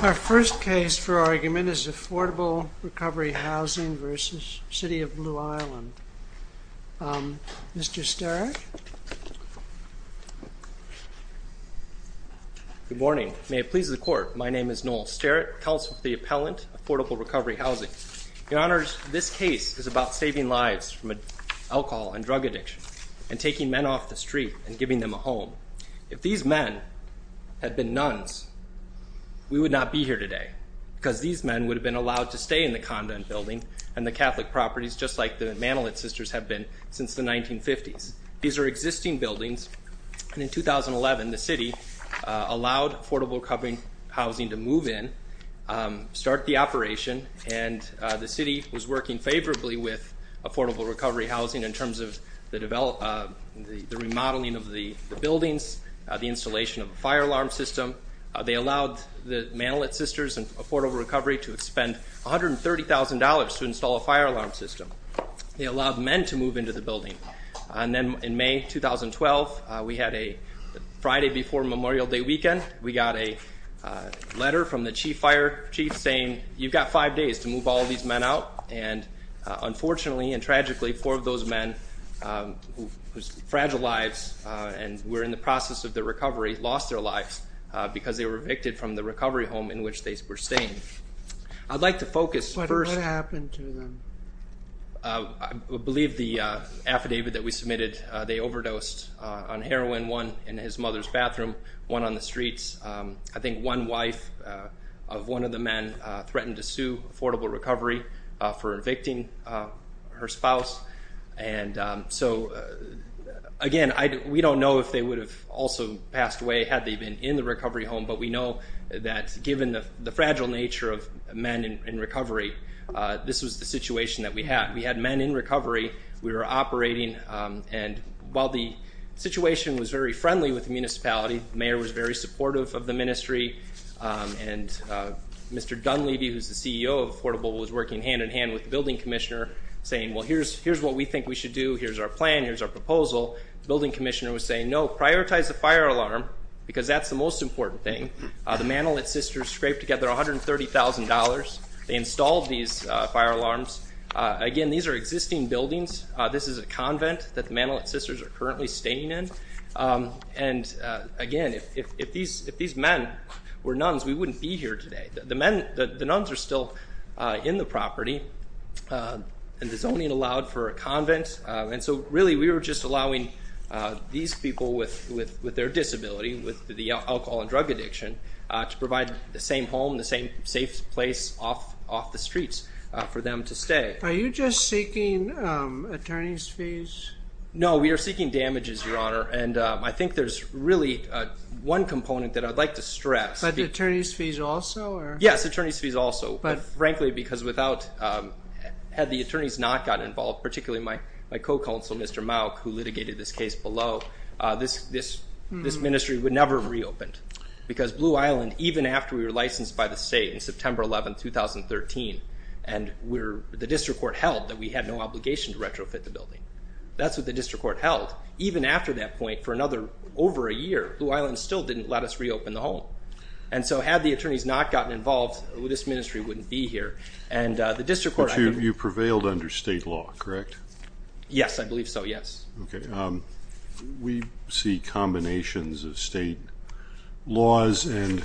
Our first case for argument is Affordable Recovery Housing v. City of Blue Island. Mr. Starrett? Good morning. May it please the Court, my name is Noel Starrett, Counsel for the Appellant, Affordable Recovery Housing. Your Honors, this case is about saving lives from alcohol and drug addiction, and taking men off the street and giving them a home. If these men had been nuns, we would not be here today, because these men would have been allowed to stay in the Condon Building and the Catholic properties, just like the Manilet Sisters have been since the 1950s. These are existing buildings, and in 2011, the City allowed Affordable Recovery Housing to move in, start the operation, and the City was working favorably with Affordable Recovery Housing in terms of the remodeling of the buildings, the installation of a fire alarm system. They allowed the Manilet Sisters and Affordable Recovery to expend $130,000 to install a fire alarm system. They allowed men to move into the building. And then in May 2012, we had a Friday before Memorial Day weekend, we got a letter from the Chief Fire Chief saying, you've got five days to move all these men out, and unfortunately and tragically, four of those men whose fragile lives were in the process of their recovery lost their lives because they were evicted from the recovery home in which they were staying. I'd like to focus first... What happened to them? I believe the affidavit that we submitted, they overdosed on heroin, one in his mother's bathroom, one on the streets. I think one wife of one of the men threatened to sue Affordable Recovery for evicting her spouse. And so again, we don't know if they would have also passed away had they been in the recovery home, but we know that given the fragile nature of men in recovery, this was the situation that we had. We had men in recovery. We were operating, and while the situation was very friendly with the municipality, the mayor was very supportive of the ministry, and Mr. Dunleavy, who's the CEO of Affordable, was working hand-in-hand with the building commissioner saying, well, here's what we think we should do, here's our plan, here's our proposal. The building commissioner was saying, no, prioritize the fire alarm because that's the most important thing. The Manolet sisters scraped together $130,000. They installed these fire alarms. Again, these are existing buildings. This is a convent that the Manolet sisters are currently staying in. And again, if these men were nuns, we wouldn't be here today. The nuns are still in the property, and the zoning allowed for a convent. Really, we were just allowing these people with their disability, with the alcohol and drug addiction, to provide the same home, the same safe place off the streets for them to stay. Are you just seeking attorney's fees? No, we are seeking damages, Your Honor, and I think there's really one component that I'd like to stress. But the attorney's fees also? Yes, attorney's fees also. Frankly, because had the attorneys not gotten involved, particularly my co-counsel, Mr. Mauck, who litigated this case below, this ministry would never have reopened. Because Blue Island, even after we were licensed by the state in September 11, 2013, and the district court held that we had no obligation to retrofit the building. That's what the district court held. Even after that point, for over a year, Blue Island still didn't let us reopen the home. And so had the attorneys not gotten involved, this ministry wouldn't be here. But you prevailed under state law, correct? Yes, I believe so, yes. We see combinations of state laws and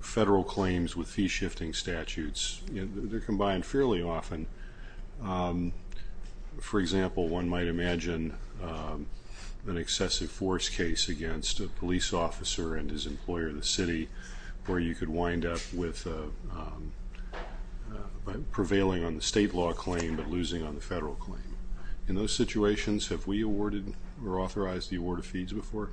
federal claims with fee-shifting statutes. They're combined fairly often. For example, one might imagine an excessive force case against a police officer and his employer in the city where you could wind up with prevailing on the state law claim but losing on the federal claim. In those situations, have we awarded or authorized the award of fees before?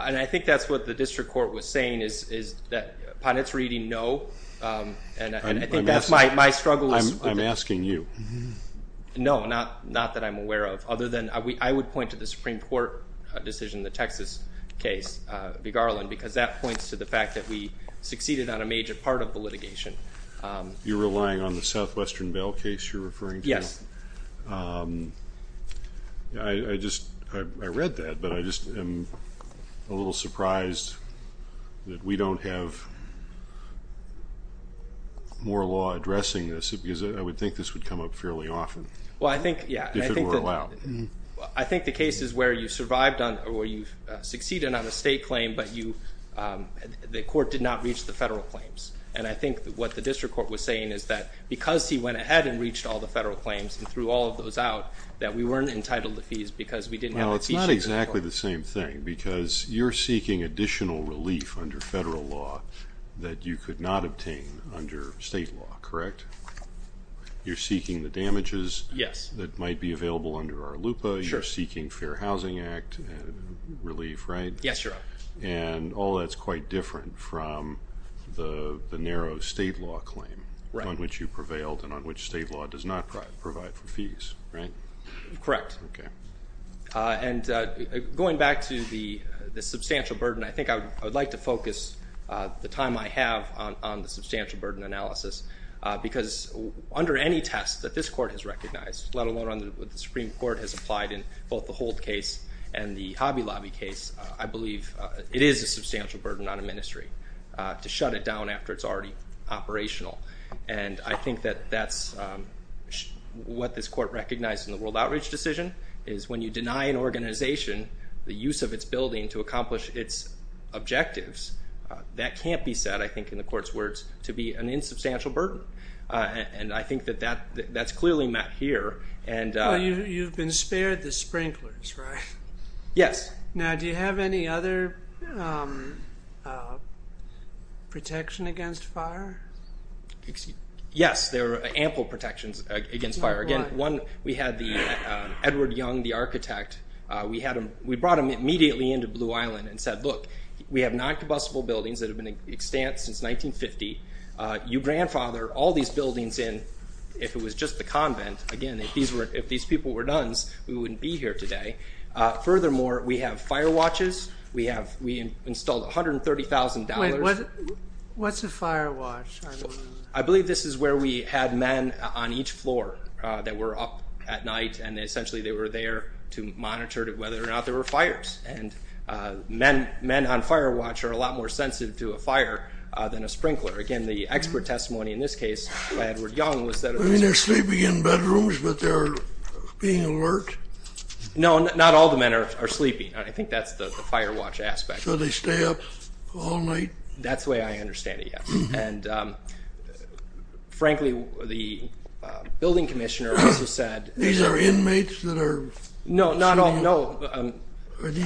And I think that's what the district court was saying, is that upon its reading, no. And I think that's my struggle. I'm asking you. No, not that I'm aware of. I would point to the Supreme Court decision, the Texas case, Big Island, because that points to the fact that we succeeded on a major part of the litigation. You're relying on the Southwestern Vail case you're referring to? Yes. I read that, but I just am a little surprised that we don't have more law addressing this because I would think this would come up fairly often if it were allowed. I think the case is where you've succeeded on a state claim, but the court did not reach the federal claims. And I think what the district court was saying is that because he went ahead and reached all the federal claims and threw all of those out, that we weren't entitled to fees because we didn't have a fee sheet. Now, it's not exactly the same thing because you're seeking additional relief under federal law that you could not obtain under state law, correct? You're seeking the damages that might be available under ARLUPA. You're seeking Fair Housing Act relief, right? Yes, Your Honor. And all that's quite different from the narrow state law claim on which you prevailed and on which state law does not provide for fees, right? Correct. Okay. And going back to the substantial burden, I think I would like to focus the time I have on the substantial burden analysis because under any test that this court has recognized, let alone what the Supreme Court has applied in both the Hold case and the Hobby Lobby case, I believe it is a substantial burden on a ministry to shut it down after it's already operational. And I think that that's what this court recognized in the World Outreach Decision is when you deny an organization the use of its building to accomplish its objectives, that can't be said, I think in the court's words, to be an insubstantial burden. And I think that that's clearly met here. You've been spared the sprinklers, right? Yes. Now, do you have any other protection against fire? Yes, there are ample protections against fire. Again, we had Edward Young, the architect. We brought him immediately into Blue Island and said, look, we have non-combustible buildings that have been extant since 1950. You grandfather all these buildings in if it was just the convent. Again, if these people were nuns, we wouldn't be here today. Furthermore, we have fire watches. We installed $130,000. Wait, what's a fire watch? I believe this is where we had men on each floor that were up at night, and essentially they were there to monitor whether or not there were fires. And men on fire watch are a lot more sensitive to a fire than a sprinkler. Again, the expert testimony in this case by Edward Young was that it was... I mean, they're sleeping in bedrooms, but they're being alert? No, not all the men are sleeping. I think that's the fire watch aspect. So they stay up all night? That's the way I understand it, yes. And frankly, the building commissioner also said... These are inmates that are... No, not all, no.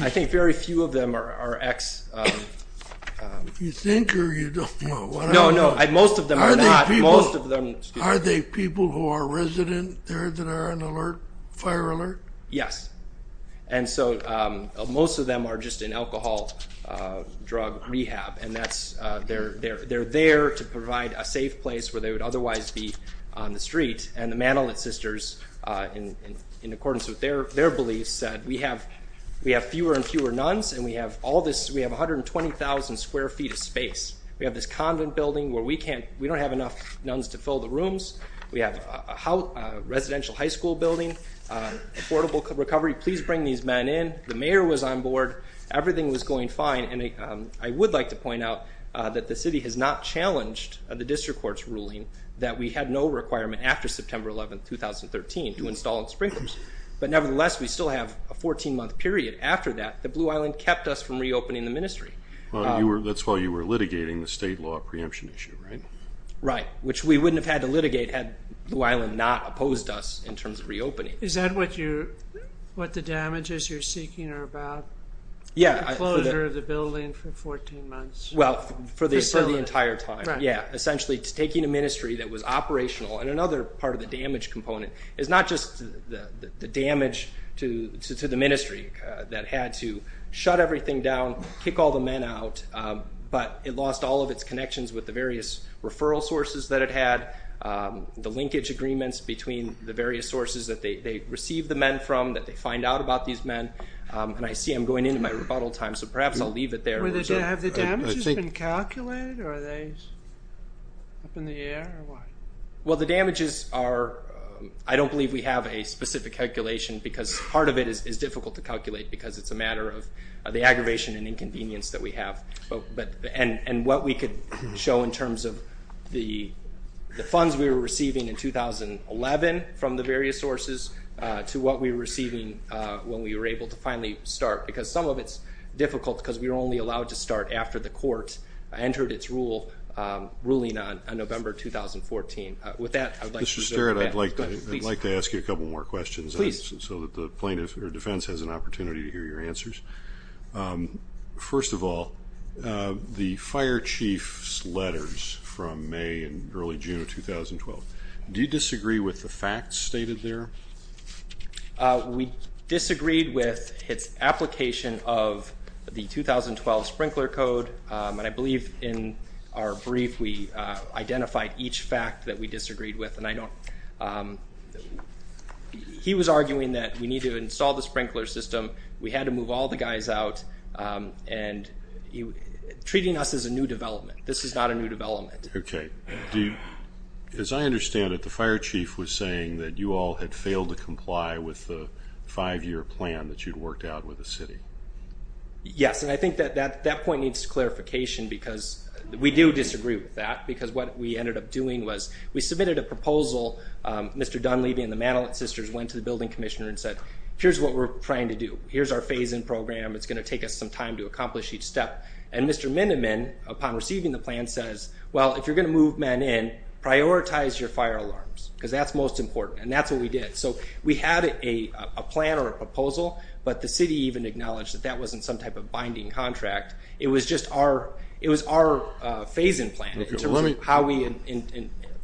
I think very few of them are ex... You think or you don't know? No, no, most of them are not. Are they people who are resident there that are on alert, fire alert? Yes. And so most of them are just in alcohol drug rehab, and they're there to provide a safe place where they would otherwise be on the street. And the Manolet sisters, in accordance with their beliefs, said we have fewer and fewer nuns and we have 120,000 square feet of space. We have this convent building where we don't have enough nuns to fill the rooms. We have a residential high school building, affordable recovery. Please bring these men in. The mayor was on board. Everything was going fine. And I would like to point out that the city has not challenged the district court's ruling that we had no requirement after September 11, 2013, to install sprinklers. But nevertheless, we still have a 14-month period after that. The Blue Island kept us from reopening the ministry. That's while you were litigating the state law preemption issue, right? Right, which we wouldn't have had to litigate had Blue Island not opposed us in terms of reopening. Is that what the damages you're seeking are about? Yeah. The closure of the building for 14 months. Well, for the entire time. Right. Yeah, essentially taking a ministry that was operational and another part of the damage component is not just the damage to the ministry that had to shut everything down, kick all the men out, but it lost all of its connections with the various referral sources that it had, the linkage agreements between the various sources that they received the men from, that they find out about these men. And I see I'm going into my rebuttal time, so perhaps I'll leave it there. Have the damages been calculated? Are they up in the air or what? Well, the damages are – I don't believe we have a specific calculation because part of it is difficult to calculate because it's a matter of the aggravation and inconvenience that we have. And what we could show in terms of the funds we were receiving in 2011 from the various sources to what we were receiving when we were able to finally start, because some of it's difficult because we were only allowed to start after the court entered its ruling on November 2014. With that, I would like to resume. Mr. Sterritt, I'd like to ask you a couple more questions. Please. So that the plaintiff or defense has an opportunity to hear your answers. First of all, the fire chief's letters from May and early June of 2012, do you disagree with the facts stated there? We disagreed with its application of the 2012 sprinkler code, and I believe in our brief we identified each fact that we disagreed with. And he was arguing that we need to install the sprinkler system, we had to move all the guys out, and treating us as a new development. This is not a new development. Okay. As I understand it, the fire chief was saying that you all had failed to comply with the five-year plan that you'd worked out with the city. Yes, and I think that that point needs clarification because we do disagree with that because what we ended up doing was we submitted a proposal. Mr. Dunleavy and the Manolet sisters went to the building commissioner and said, here's what we're trying to do. Here's our phase-in program. It's going to take us some time to accomplish each step. And Mr. Miniman, upon receiving the plan, says, well, if you're going to move men in, prioritize your fire alarms because that's most important. And that's what we did. So we had a plan or a proposal, but the city even acknowledged that that wasn't some type of binding contract. It was just our phase-in plan in terms of how we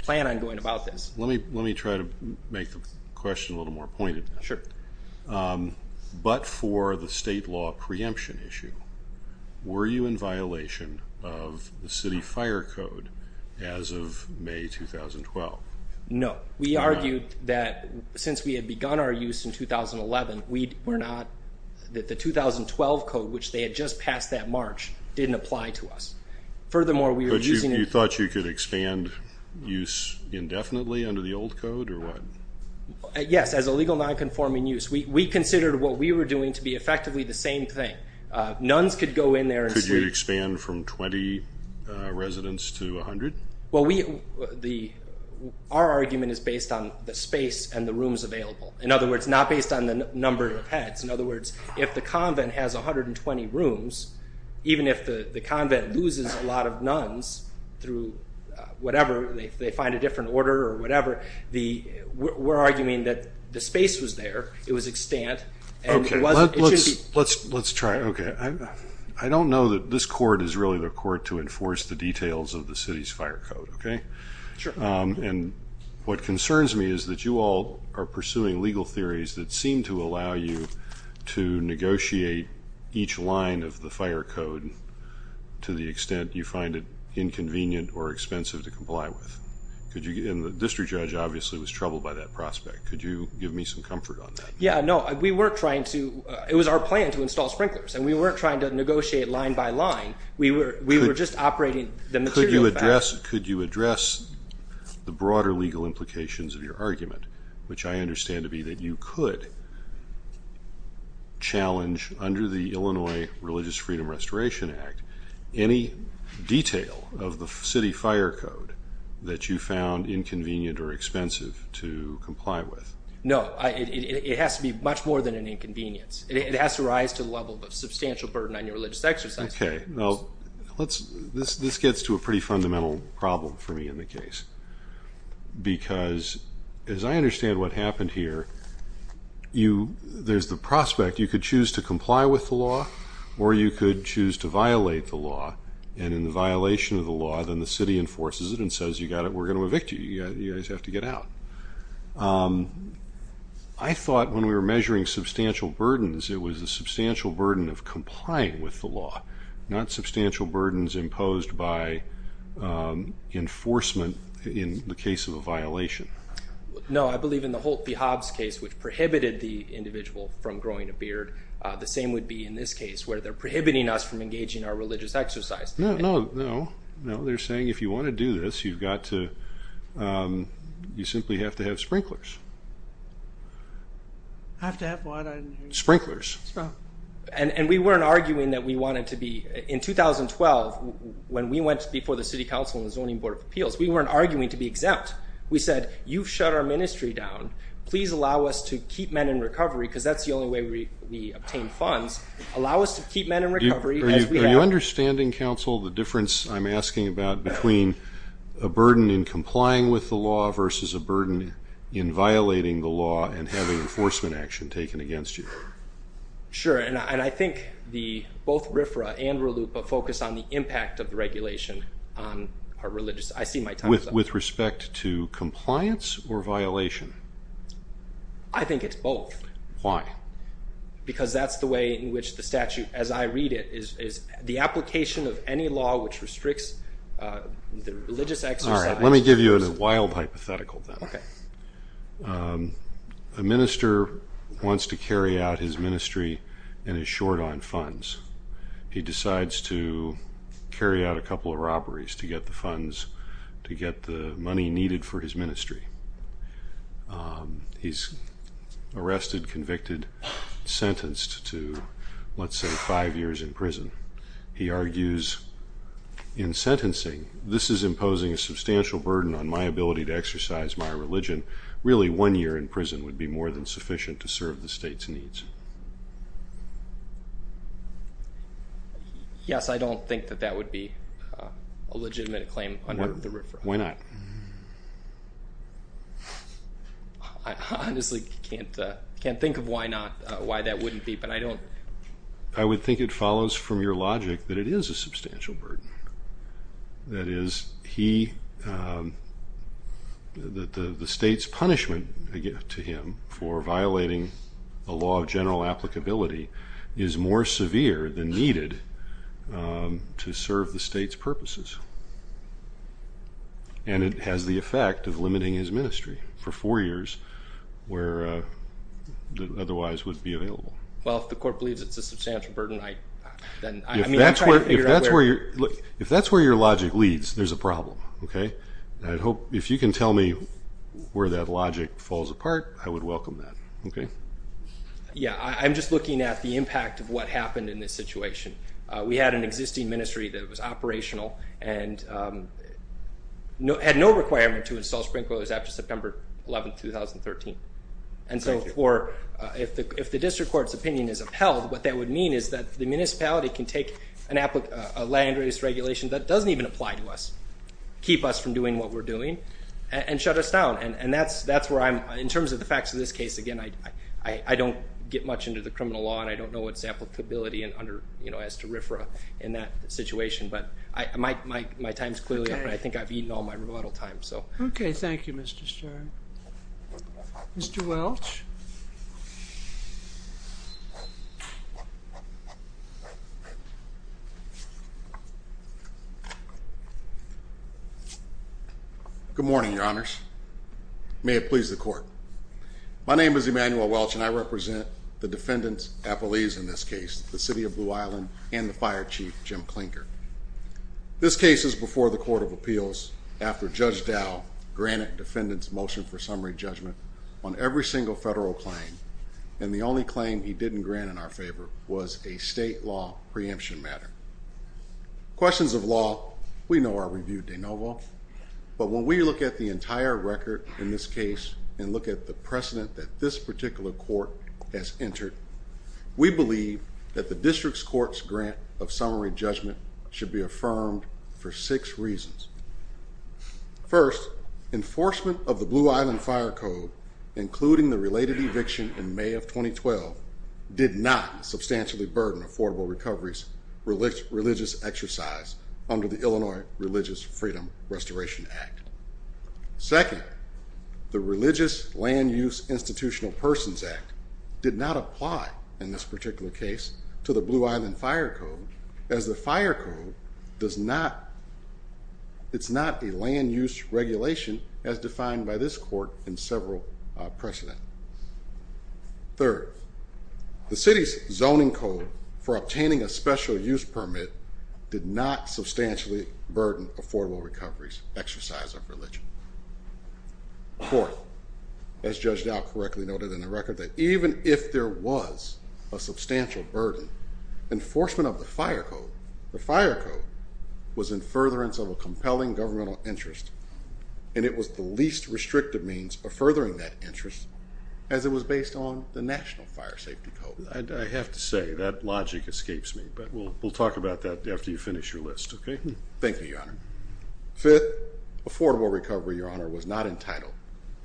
plan on going about this. Let me try to make the question a little more pointed. Sure. But for the state law preemption issue, were you in violation of the city fire code as of May 2012? No. We argued that since we had begun our use in 2011, that the 2012 code, which they had just passed that March, didn't apply to us. Furthermore, we were using it. But you thought you could expand use indefinitely under the old code or what? Yes, as illegal nonconforming use. We considered what we were doing to be effectively the same thing. Nuns could go in there and sleep. Could you expand from 20 residents to 100? Well, our argument is based on the space and the rooms available. In other words, not based on the number of heads. In other words, if the convent has 120 rooms, even if the convent loses a lot of nuns through whatever, if they find a different order or whatever, we're arguing that the space was there, it was extant. Let's try it. Okay. I don't know that this court is really the court to enforce the details of the city's fire code, okay? Sure. And what concerns me is that you all are pursuing legal theories that seem to allow you to negotiate each line of the fire code to the extent you find it inconvenient or expensive to comply with. And the district judge obviously was troubled by that prospect. Could you give me some comfort on that? Yeah, no. We weren't trying to. It was our plan to install sprinklers, and we weren't trying to negotiate line by line. We were just operating the material. Could you address the broader legal implications of your argument, which I understand to be that you could challenge, under the Illinois Religious Freedom Restoration Act, any detail of the city fire code that you found inconvenient or expensive to comply with? No. It has to be much more than an inconvenience. It has to rise to the level of a substantial burden on your religious exercise. Okay. Well, this gets to a pretty fundamental problem for me in the case because, as I understand what happened here, there's the prospect. You could choose to comply with the law, or you could choose to violate the law. And in the violation of the law, then the city enforces it and says, we're going to evict you. You guys have to get out. I thought when we were measuring substantial burdens, it was a substantial burden of complying with the law, not substantial burdens imposed by enforcement in the case of a violation. No, I believe in the Holt v. Hobbs case, which prohibited the individual from growing a beard, the same would be in this case, where they're prohibiting us from engaging in our religious exercise. No, no, no. They're saying if you want to do this, you simply have to have sprinklers. Have to have what? Sprinklers. And we weren't arguing that we wanted to be. In 2012, when we went before the city council and the Zoning Board of Appeals, we weren't arguing to be exempt. We said, you've shut our ministry down. Please allow us to keep men in recovery, because that's the only way we obtain funds. Allow us to keep men in recovery as we have. Are you understanding, counsel, the difference I'm asking about between a burden in complying with the law versus a burden in violating the law and having enforcement action taken against you? Sure, and I think both RFRA and RLUIPA focus on the impact of the regulation on our religious exercise. With respect to compliance or violation? I think it's both. Why? Because that's the way in which the statute, as I read it, is the application of any law which restricts the religious exercise. All right, let me give you a wild hypothetical then. Okay. A minister wants to carry out his ministry and is short on funds. He decides to carry out a couple of robberies to get the funds, to get the money needed for his ministry. He's arrested, convicted, sentenced to, let's say, five years in prison. He argues in sentencing, this is imposing a substantial burden on my ability to exercise my religion. Really, one year in prison would be more than sufficient to serve the state's needs. Yes, I don't think that that would be a legitimate claim under the RFRA. Why not? I honestly can't think of why that wouldn't be, but I don't. I would think it follows from your logic that it is a substantial burden. That is, the state's punishment to him for violating the law of general applicability is more severe than needed to serve the state's purposes. And it has the effect of limiting his ministry for four years where it otherwise would be available. Well, if the court believes it's a substantial burden, then I'm trying to figure out where. If that's where your logic leads, there's a problem. If you can tell me where that logic falls apart, I would welcome that. Yes, I'm just looking at the impact of what happened in this situation. We had an existing ministry that was operational and had no requirement to install sprinklers after September 11, 2013. And so if the district court's opinion is upheld, what that would mean is that the municipality can take a land-based regulation that doesn't even apply to us, keep us from doing what we're doing, and shut us down. And in terms of the facts of this case, again, I don't get much into the criminal law, and I don't know its applicability as to RFRA in that situation. But my time is clearly up, and I think I've eaten all my rebuttal time. Okay, thank you, Mr. Stern. Mr. Welch? Good morning, Your Honors. May it please the Court. My name is Emmanuel Welch, and I represent the defendants' appellees in this case, the city of Blue Island and the fire chief, Jim Klinker. This case is before the Court of Appeals after Judge Dow granted defendants' motion for summary judgment on every single federal claim, and the only claim he didn't grant in our favor was a state law preemption matter. Questions of law we know are reviewed de novo, but when we look at the entire record in this case and look at the precedent that this particular court has entered, we believe that the district's court's grant of summary judgment should be affirmed for six reasons. First, enforcement of the Blue Island Fire Code, including the related eviction in May of 2012, did not substantially burden affordable recoveries religious exercise under the Illinois Religious Freedom Restoration Act. Second, the Religious Land Use Institutional Persons Act did not apply in this particular case to the Blue Island Fire Code, as the Fire Code is not a land use regulation as defined by this court in several precedents. Third, the city's zoning code for obtaining a special use permit did not substantially burden affordable recoveries exercise of religion. Fourth, as Judge Dow correctly noted in the record, that even if there was a substantial burden, enforcement of the Fire Code, the Fire Code was in furtherance of a compelling governmental interest, and it was the least restrictive means of furthering that interest, as it was based on the National Fire Safety Code. I have to say, that logic escapes me, but we'll talk about that after you finish your list, okay? Thank you, Your Honor. Fifth, affordable recovery, Your Honor, was not entitled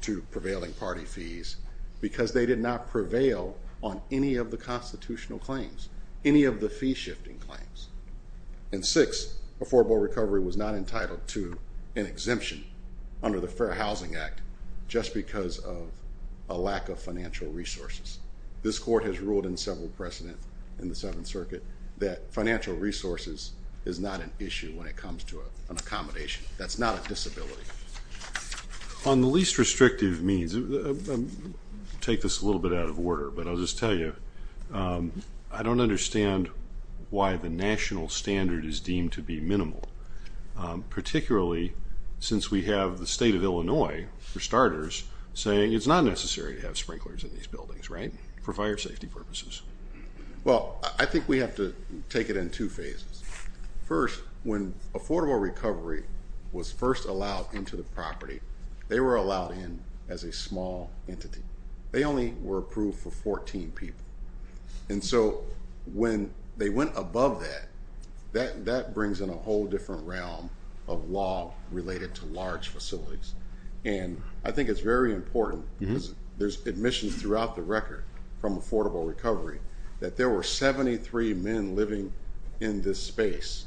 to prevailing party fees because they did not prevail on any of the constitutional claims, any of the fee-shifting claims. And sixth, affordable recovery was not entitled to an exemption under the Fair Housing Act just because of a lack of financial resources. This court has ruled in several precedents in the Seventh Circuit that financial resources is not an issue when it comes to an accommodation. That's not a disability. On the least restrictive means, I'll take this a little bit out of order, but I'll just tell you, I don't understand why the national standard is deemed to be minimal, particularly since we have the State of Illinois, for starters, saying it's not necessary to have sprinklers in these buildings, right, for fire safety purposes. Well, I think we have to take it in two phases. First, when affordable recovery was first allowed into the property, they were allowed in as a small entity. They only were approved for 14 people. And so when they went above that, that brings in a whole different realm of law related to large facilities. And I think it's very important, because there's admissions throughout the record from affordable recovery, that there were 73 men living in this space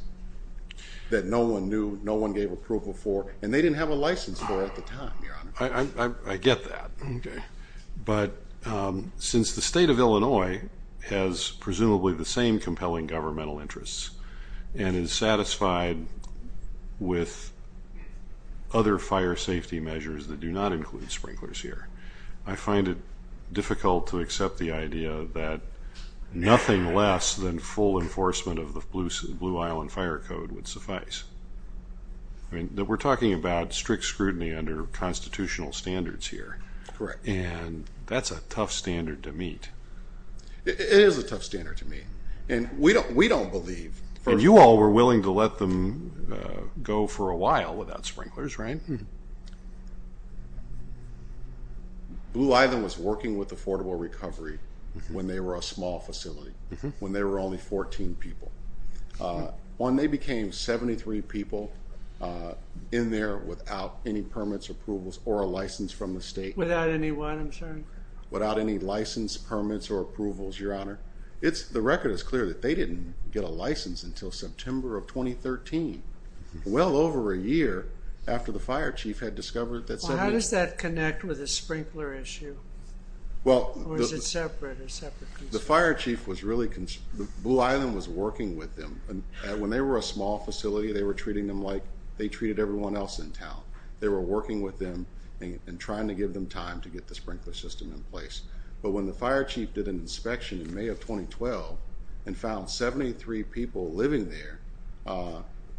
that no one knew, no one gave approval for, and they didn't have a license for at the time, Your Honor. I get that. But since the State of Illinois has presumably the same compelling governmental interests and is satisfied with other fire safety measures that do not include sprinklers here, I find it difficult to accept the idea that nothing less than full enforcement of the Blue Island Fire Code would suffice. I mean, we're talking about strict scrutiny under constitutional standards here. Correct. And that's a tough standard to meet. It is a tough standard to meet. And we don't believe. And you all were willing to let them go for a while without sprinklers, right? Blue Island was working with affordable recovery when they were a small facility, when there were only 14 people. When they became 73 people in there without any permits, approvals, or a license from the state. Without any what, I'm sorry? Without any license, permits, or approvals, Your Honor. The record is clear that they didn't get a license until September of 2013, well over a year after the fire chief had discovered that somebody had. How does that connect with the sprinkler issue? Or is it separate? The fire chief was really concerned. Blue Island was working with them. When they were a small facility, they were treating them like they treated everyone else in town. They were working with them and trying to give them time to get the sprinkler system in place. But when the fire chief did an inspection in May of 2012 and found 73 people living there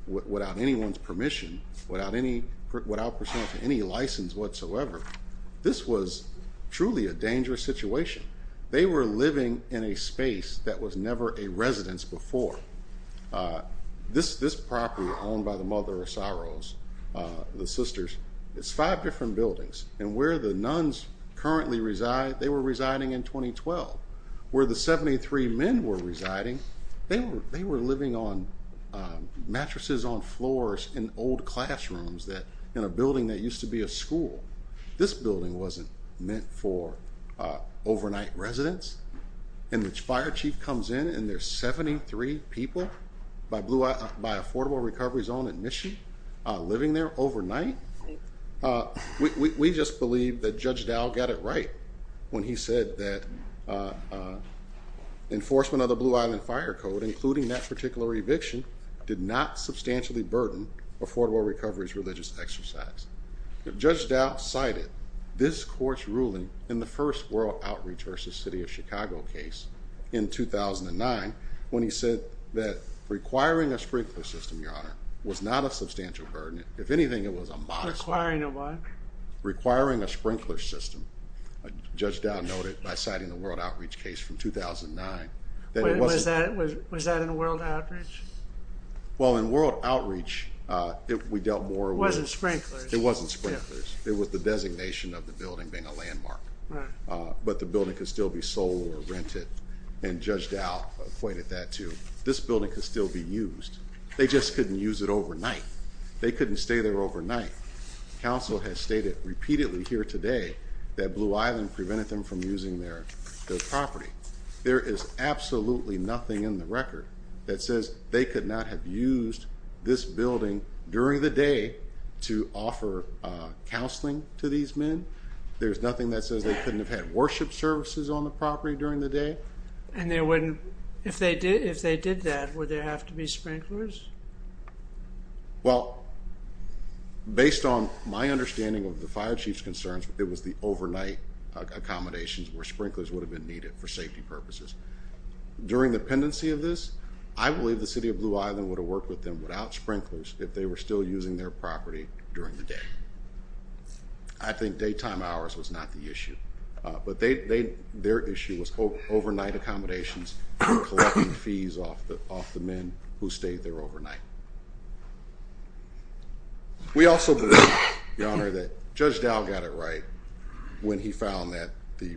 without anyone's permission, without any, without any license whatsoever, this was truly a dangerous situation. They were living in a space that was never a residence before. This property owned by the Mother of Sorrows, the sisters, is five different buildings. And where the nuns currently reside, they were residing in 2012. Where the 73 men were residing, they were living on mattresses on floors in old classrooms in a building that used to be a school. This building wasn't meant for overnight residence. And the fire chief comes in and there's 73 people by affordable recovery zone admission living there overnight. We just believe that Judge Dow got it right when he said that enforcement of the Blue Island Fire Code, including that particular eviction, did not substantially burden affordable recovery's religious exercise. Judge Dow cited this court's ruling in the first World Outreach versus City of Chicago case in 2009 when he said that requiring a sprinkler system, Your Honor, was not a substantial burden. If anything, it was a modest one. Requiring a what? Requiring a sprinkler system, Judge Dow noted by citing the World Outreach case from 2009. Was that in World Outreach? Well, in World Outreach, we dealt more with... It wasn't sprinklers. It wasn't sprinklers. It was the designation of the building being a landmark. But the building could still be sold or rented, and Judge Dow pointed that to. This building could still be used. They just couldn't use it overnight. They couldn't stay there overnight. Council has stated repeatedly here today that Blue Island prevented them from using their property. There is absolutely nothing in the record that says they could not have used this building during the day to offer counseling to these men. There's nothing that says they couldn't have had worship services on the property during the day. If they did that, would there have to be sprinklers? Well, based on my understanding of the fire chief's concerns, it was the overnight accommodations where sprinklers would have been needed for safety purposes. During the pendency of this, I believe the City of Blue Island would have worked with them without sprinklers if they were still using their property during the day. I think daytime hours was not the issue. But their issue was overnight accommodations and collecting fees off the men who stayed there overnight. We also believe, Your Honor, that Judge Dow got it right when he found that the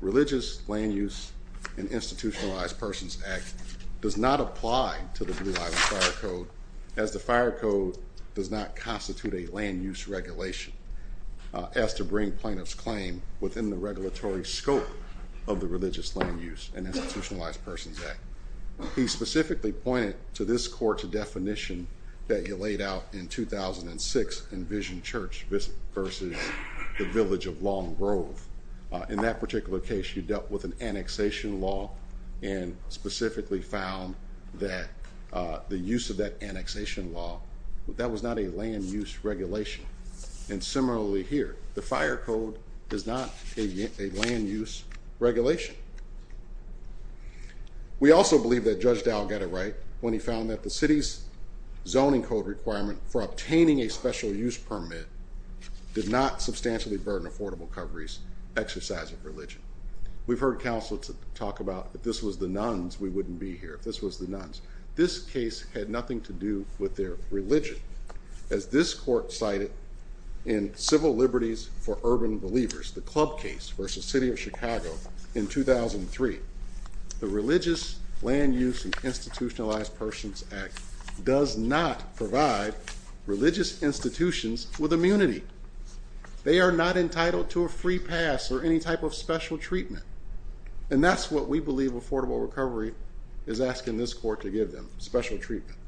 Religious Land Use and Institutionalized Persons Act does not apply to the Blue Island Fire Code as the Fire Code does not constitute a land use regulation as to bring plaintiff's claim within the regulatory scope of the Religious Land Use and Institutionalized Persons Act. He specifically pointed to this court's definition that you laid out in 2006 in Vision Church versus the Village of Long Grove. In that particular case, you dealt with an annexation law and specifically found that the use of that annexation law, that was not a land use regulation. And similarly here, the Fire Code is not a land use regulation. We also believe that Judge Dow got it right when he found that the City's zoning code requirement for obtaining a special use permit did not substantially burden affordable coverage exercise of religion. We've heard counselors talk about if this was the nuns, we wouldn't be here. If this was the nuns. This case had nothing to do with their religion. As this court cited in Civil Liberties for Urban Believers, the club case versus City of Chicago in 2003, the Religious Land Use and Institutionalized Persons Act does not provide religious institutions with immunity. They are not entitled to a free pass or any type of special treatment. And that's what we believe Affordable Recovery is asking this court to give them, special treatment.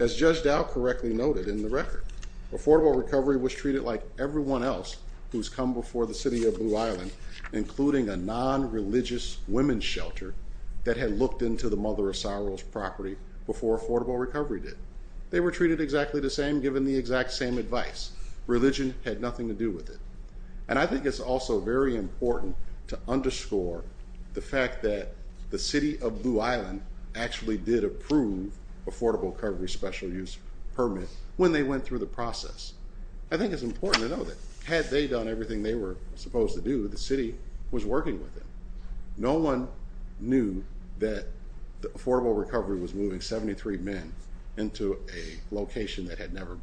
As Judge Dow correctly noted in the record, Affordable Recovery was treated like everyone else who's come before the City of Blue Island, including a non-religious women's shelter that had looked into the Mother of Sorrows property before Affordable Recovery did. They were treated exactly the same given the exact same advice. Religion had nothing to do with it. And I think it's also very important to underscore the fact that the City of Blue Island actually did approve Affordable Recovery's special use permit when they went through the process. I think it's important to know that had they done everything they were supposed to do, the city was working with them. No one knew that Affordable Recovery was moving 73 men into a location that had never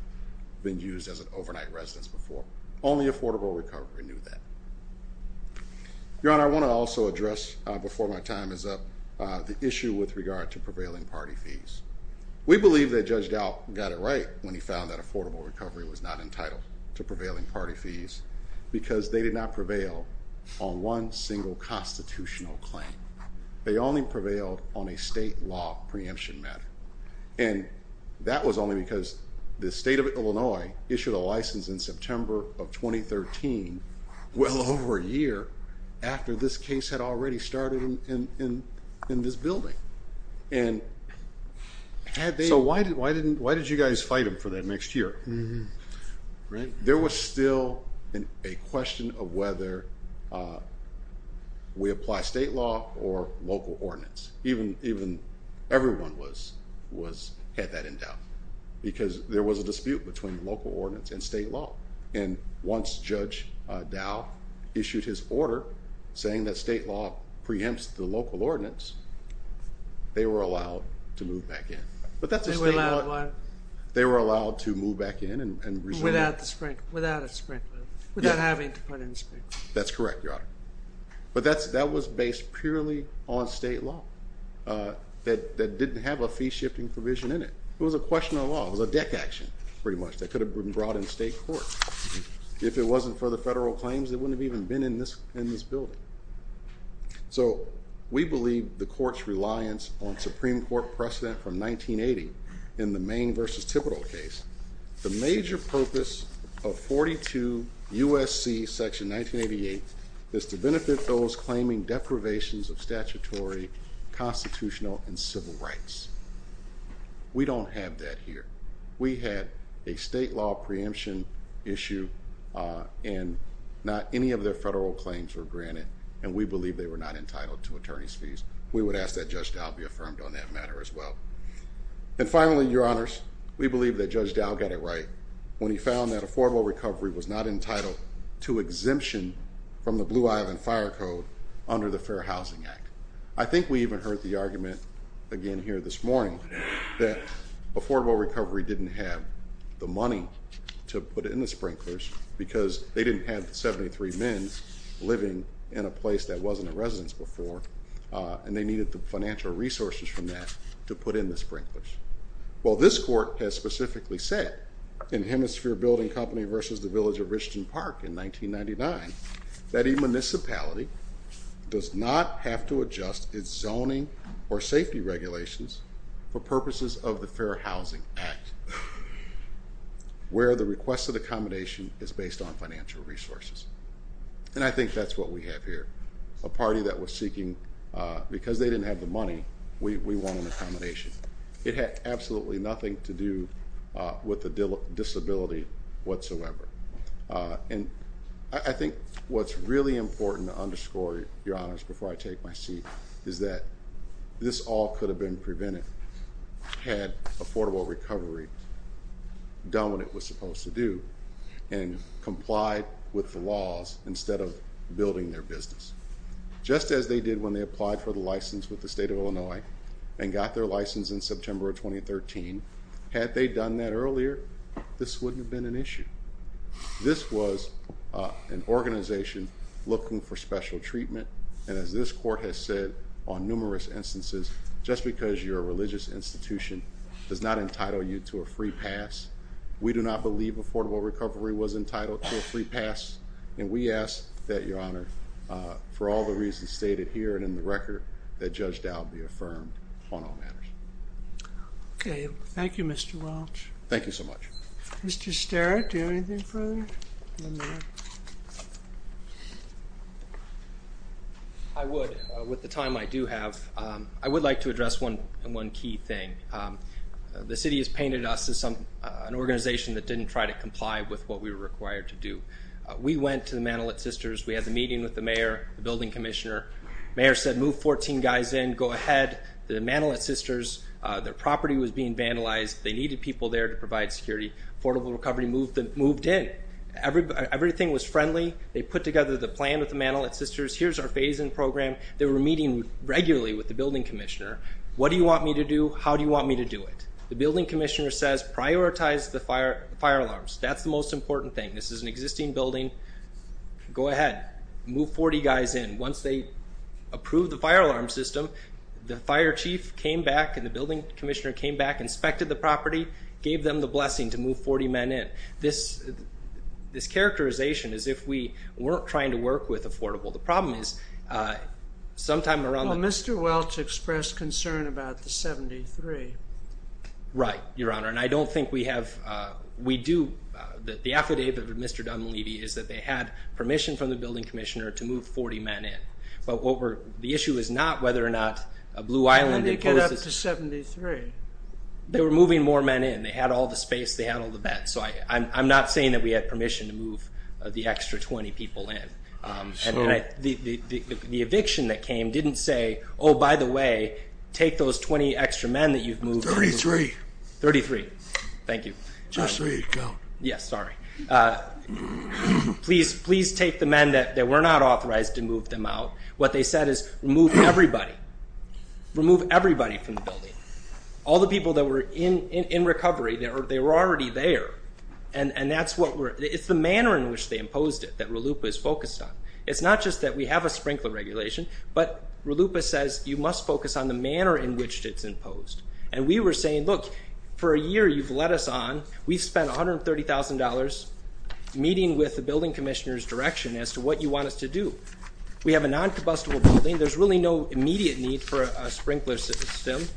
been used as an overnight residence before. Only Affordable Recovery knew that. Your Honor, I want to also address, before my time is up, the issue with regard to prevailing party fees. We believe that Judge Dow got it right when he found that Affordable Recovery was not entitled to prevailing party fees because they did not prevail on one single constitutional claim. They only prevailed on a state law preemption matter. And that was only because the State of Illinois issued a license in September of 2013 well over a year after this case had already started in this building. So why did you guys fight him for that next year? There was still a question of whether we apply state law or local ordinance. Even everyone had that in doubt because there was a dispute between local ordinance and state law. And once Judge Dow issued his order saying that state law preempts the local ordinance, they were allowed to move back in. But that's a state law. They were allowed what? They were allowed to move back in and resume. Without a sprint. Without having to put in a sprint. That's correct, Your Honor. But that was based purely on state law that didn't have a fee-shifting provision in it. It was a question of law. It was a deck action, pretty much, that could have been brought in state court. If it wasn't for the federal claims, they wouldn't have even been in this building. So we believe the court's reliance on Supreme Court precedent from 1980 in the Maine v. Thibodeau case. The major purpose of 42 U.S.C. section 1988 is to benefit those claiming deprivations of statutory, constitutional, and civil rights. We don't have that here. We had a state law preemption issue, and not any of their federal claims were granted, and we believe they were not entitled to attorney's fees. We would ask that Judge Dow be affirmed on that matter as well. And finally, Your Honors, we believe that Judge Dow got it right when he found that a formal recovery was not entitled to exemption from the Blue Island Fire Code under the Fair Housing Act. I think we even heard the argument, again here this morning, that affordable recovery didn't have the money to put in the sprinklers because they didn't have 73 men living in a place that wasn't a residence before, and they needed the financial resources from that to put in the sprinklers. Well, this court has specifically said in Hemisphere Building Company v. The Village of Richland Park in 1999 that a municipality does not have to adjust its zoning or safety regulations for purposes of the Fair Housing Act where the requested accommodation is based on financial resources. And I think that's what we have here, a party that was seeking, because they didn't have the money, we want an accommodation. It had absolutely nothing to do with the disability whatsoever. And I think what's really important to underscore, Your Honors, before I take my seat, is that this all could have been prevented had affordable recovery done what it was supposed to do and complied with the laws instead of building their business. Just as they did when they applied for the license with the State of Illinois and got their license in September of 2013, had they done that earlier, this wouldn't have been an issue. This was an organization looking for special treatment. And as this court has said on numerous instances, just because you're a religious institution does not entitle you to a free pass. We do not believe affordable recovery was entitled to a free pass. And we ask that, Your Honor, for all the reasons stated here and in the record, that Judge Dowd be affirmed on all matters. Okay. Thank you, Mr. Welch. Thank you so much. Mr. Sterritt, do you have anything further? I would, with the time I do have. I would like to address one key thing. The city has painted us as an organization that didn't try to comply with what we were required to do. We went to the Manalit Sisters. We had the meeting with the mayor, the building commissioner. The mayor said, Move 14 guys in. Go ahead. The Manalit Sisters, their property was being vandalized. They needed people there to provide security. Affordable recovery moved in. Everything was friendly. They put together the plan with the Manalit Sisters. Here's our phase-in program. They were meeting regularly with the building commissioner. What do you want me to do? How do you want me to do it? The building commissioner says, Prioritize the fire alarms. That's the most important thing. This is an existing building. Go ahead. Move 40 guys in. Once they approved the fire alarm system, the fire chief came back and the building commissioner came back, inspected the property, gave them the blessing to move 40 men in. This characterization is if we weren't trying to work with Affordable. The problem is sometime around the time— Well, Mr. Welch expressed concern about the 73. Right, Your Honor, and I don't think we have—we do. The affidavit of Mr. Dunleavy is that they had permission from the building commissioner to move 40 men in. But the issue is not whether or not Blue Island— What about the 73? They were moving more men in. They had all the space. They had all the beds. So I'm not saying that we had permission to move the extra 20 people in. The eviction that came didn't say, Oh, by the way, take those 20 extra men that you've moved in. 33. 33. Thank you. Just three to count. Yes, sorry. Please take the men that were not authorized to move them out. What they said is, Remove everybody. Remove everybody from the building. All the people that were in recovery, they were already there. And that's what we're—it's the manner in which they imposed it that RLUIPA is focused on. It's not just that we have a sprinkler regulation, but RLUIPA says you must focus on the manner in which it's imposed. And we were saying, Look, for a year you've led us on. We've spent $130,000 meeting with the building commissioner's direction as to what you want us to do. We have a non-combustible building. There's really no immediate need for a sprinkler system.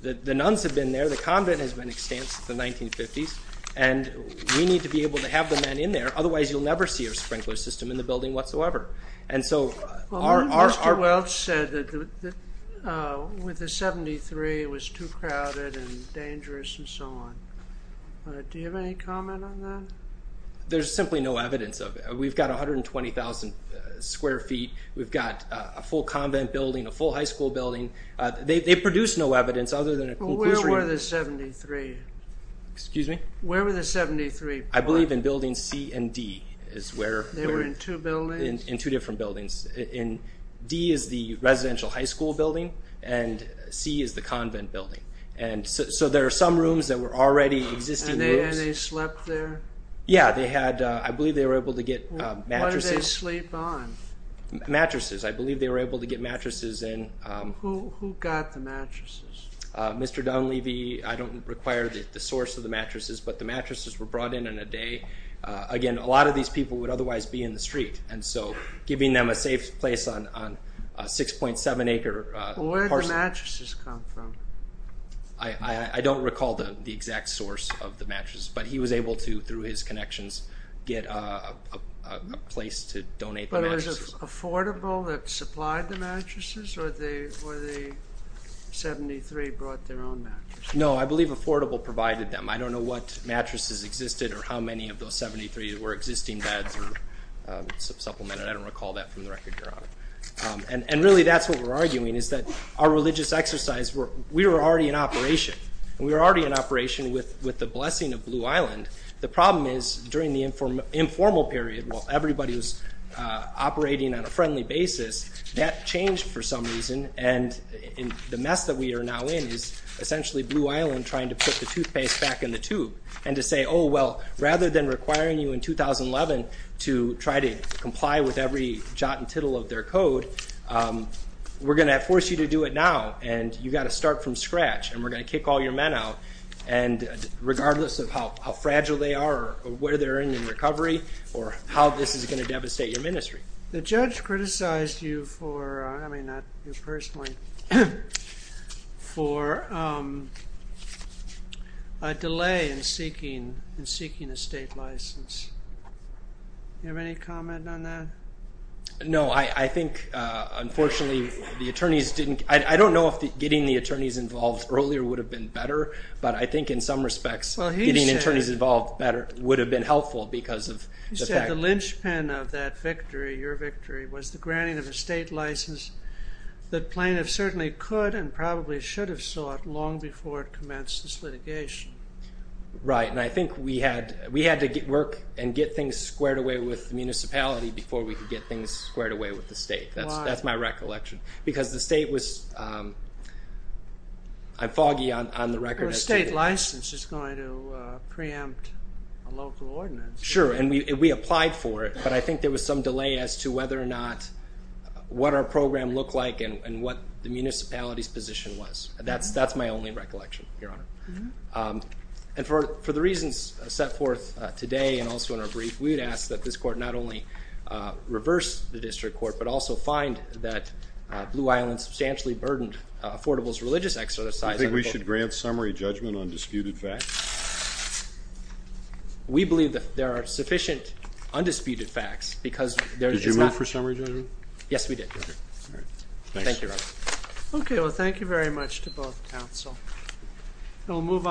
The nuns have been there. The convent has been extensive since the 1950s. And we need to be able to have the men in there. Otherwise, you'll never see a sprinkler system in the building whatsoever. And so our— Mr. Welch said that with the 73, it was too crowded and dangerous and so on. Do you have any comment on that? There's simply no evidence of it. We've got 120,000 square feet. We've got a full convent building, a full high school building. They produce no evidence other than a— Where were the 73? Excuse me? Where were the 73? I believe in Building C and D is where— They were in two buildings? In two different buildings. D is the residential high school building, and C is the convent building. So there are some rooms that were already existing rooms. And they slept there? Yeah, they had—I believe they were able to get mattresses. What did they sleep on? Mattresses. I believe they were able to get mattresses in. Who got the mattresses? Mr. Dunleavy. I don't require the source of the mattresses, but the mattresses were brought in in a day. Again, a lot of these people would otherwise be in the street, and so giving them a safe place on a 6.7-acre parcel— Where did the mattresses come from? I don't recall the exact source of the mattress, but he was able to, through his connections, get a place to donate the mattresses. But was it Affordable that supplied the mattresses, or the 73 brought their own mattresses? No, I believe Affordable provided them. I don't know what mattresses existed or how many of those 73 were existing beds or supplemented. I don't recall that from the record, Your Honor. And really that's what we're arguing is that our religious exercise, we were already in operation, and we were already in operation with the blessing of Blue Island. The problem is during the informal period, while everybody was operating on a friendly basis, that changed for some reason, and the mess that we are now in is essentially Blue Island trying to put the toothpaste back in the tube and to say, oh, well, rather than requiring you in 2011 to try to comply with every jot and tittle of their code, we're going to force you to do it now, and you've got to start from scratch, and we're going to kick all your men out, regardless of how fragile they are or where they're in in recovery or how this is going to devastate your ministry. The judge criticized you for a delay in seeking a state license. Do you have any comment on that? No, I think, unfortunately, the attorneys didn't... I don't know if getting the attorneys involved earlier would have been better, but I think in some respects getting the attorneys involved better would have been helpful because of... You said the linchpin of that victory, your victory, was the granting of a state license that plaintiffs certainly could and probably should have sought long before it commenced this litigation. Right, and I think we had to work and get things squared away with the municipality before we could get things squared away with the state. Why? That's my recollection, because the state was... I'm foggy on the record as to... But a state license is going to preempt a local ordinance. Sure, and we applied for it, but I think there was some delay as to whether or not... what our program looked like and what the municipality's position was. That's my only recollection, Your Honor. And for the reasons set forth today and also in our brief, we would ask that this court not only reverse the district court but also find that Blue Island substantially burdened Affordable's religious exercise... Do you think we should grant summary judgment on disputed facts? We believe that there are sufficient undisputed facts because there is not... Did you move for summary judgment? Yes, we did, Your Honor. All right, thanks. Thank you, Your Honor. Okay, well, thank you very much to both counsel.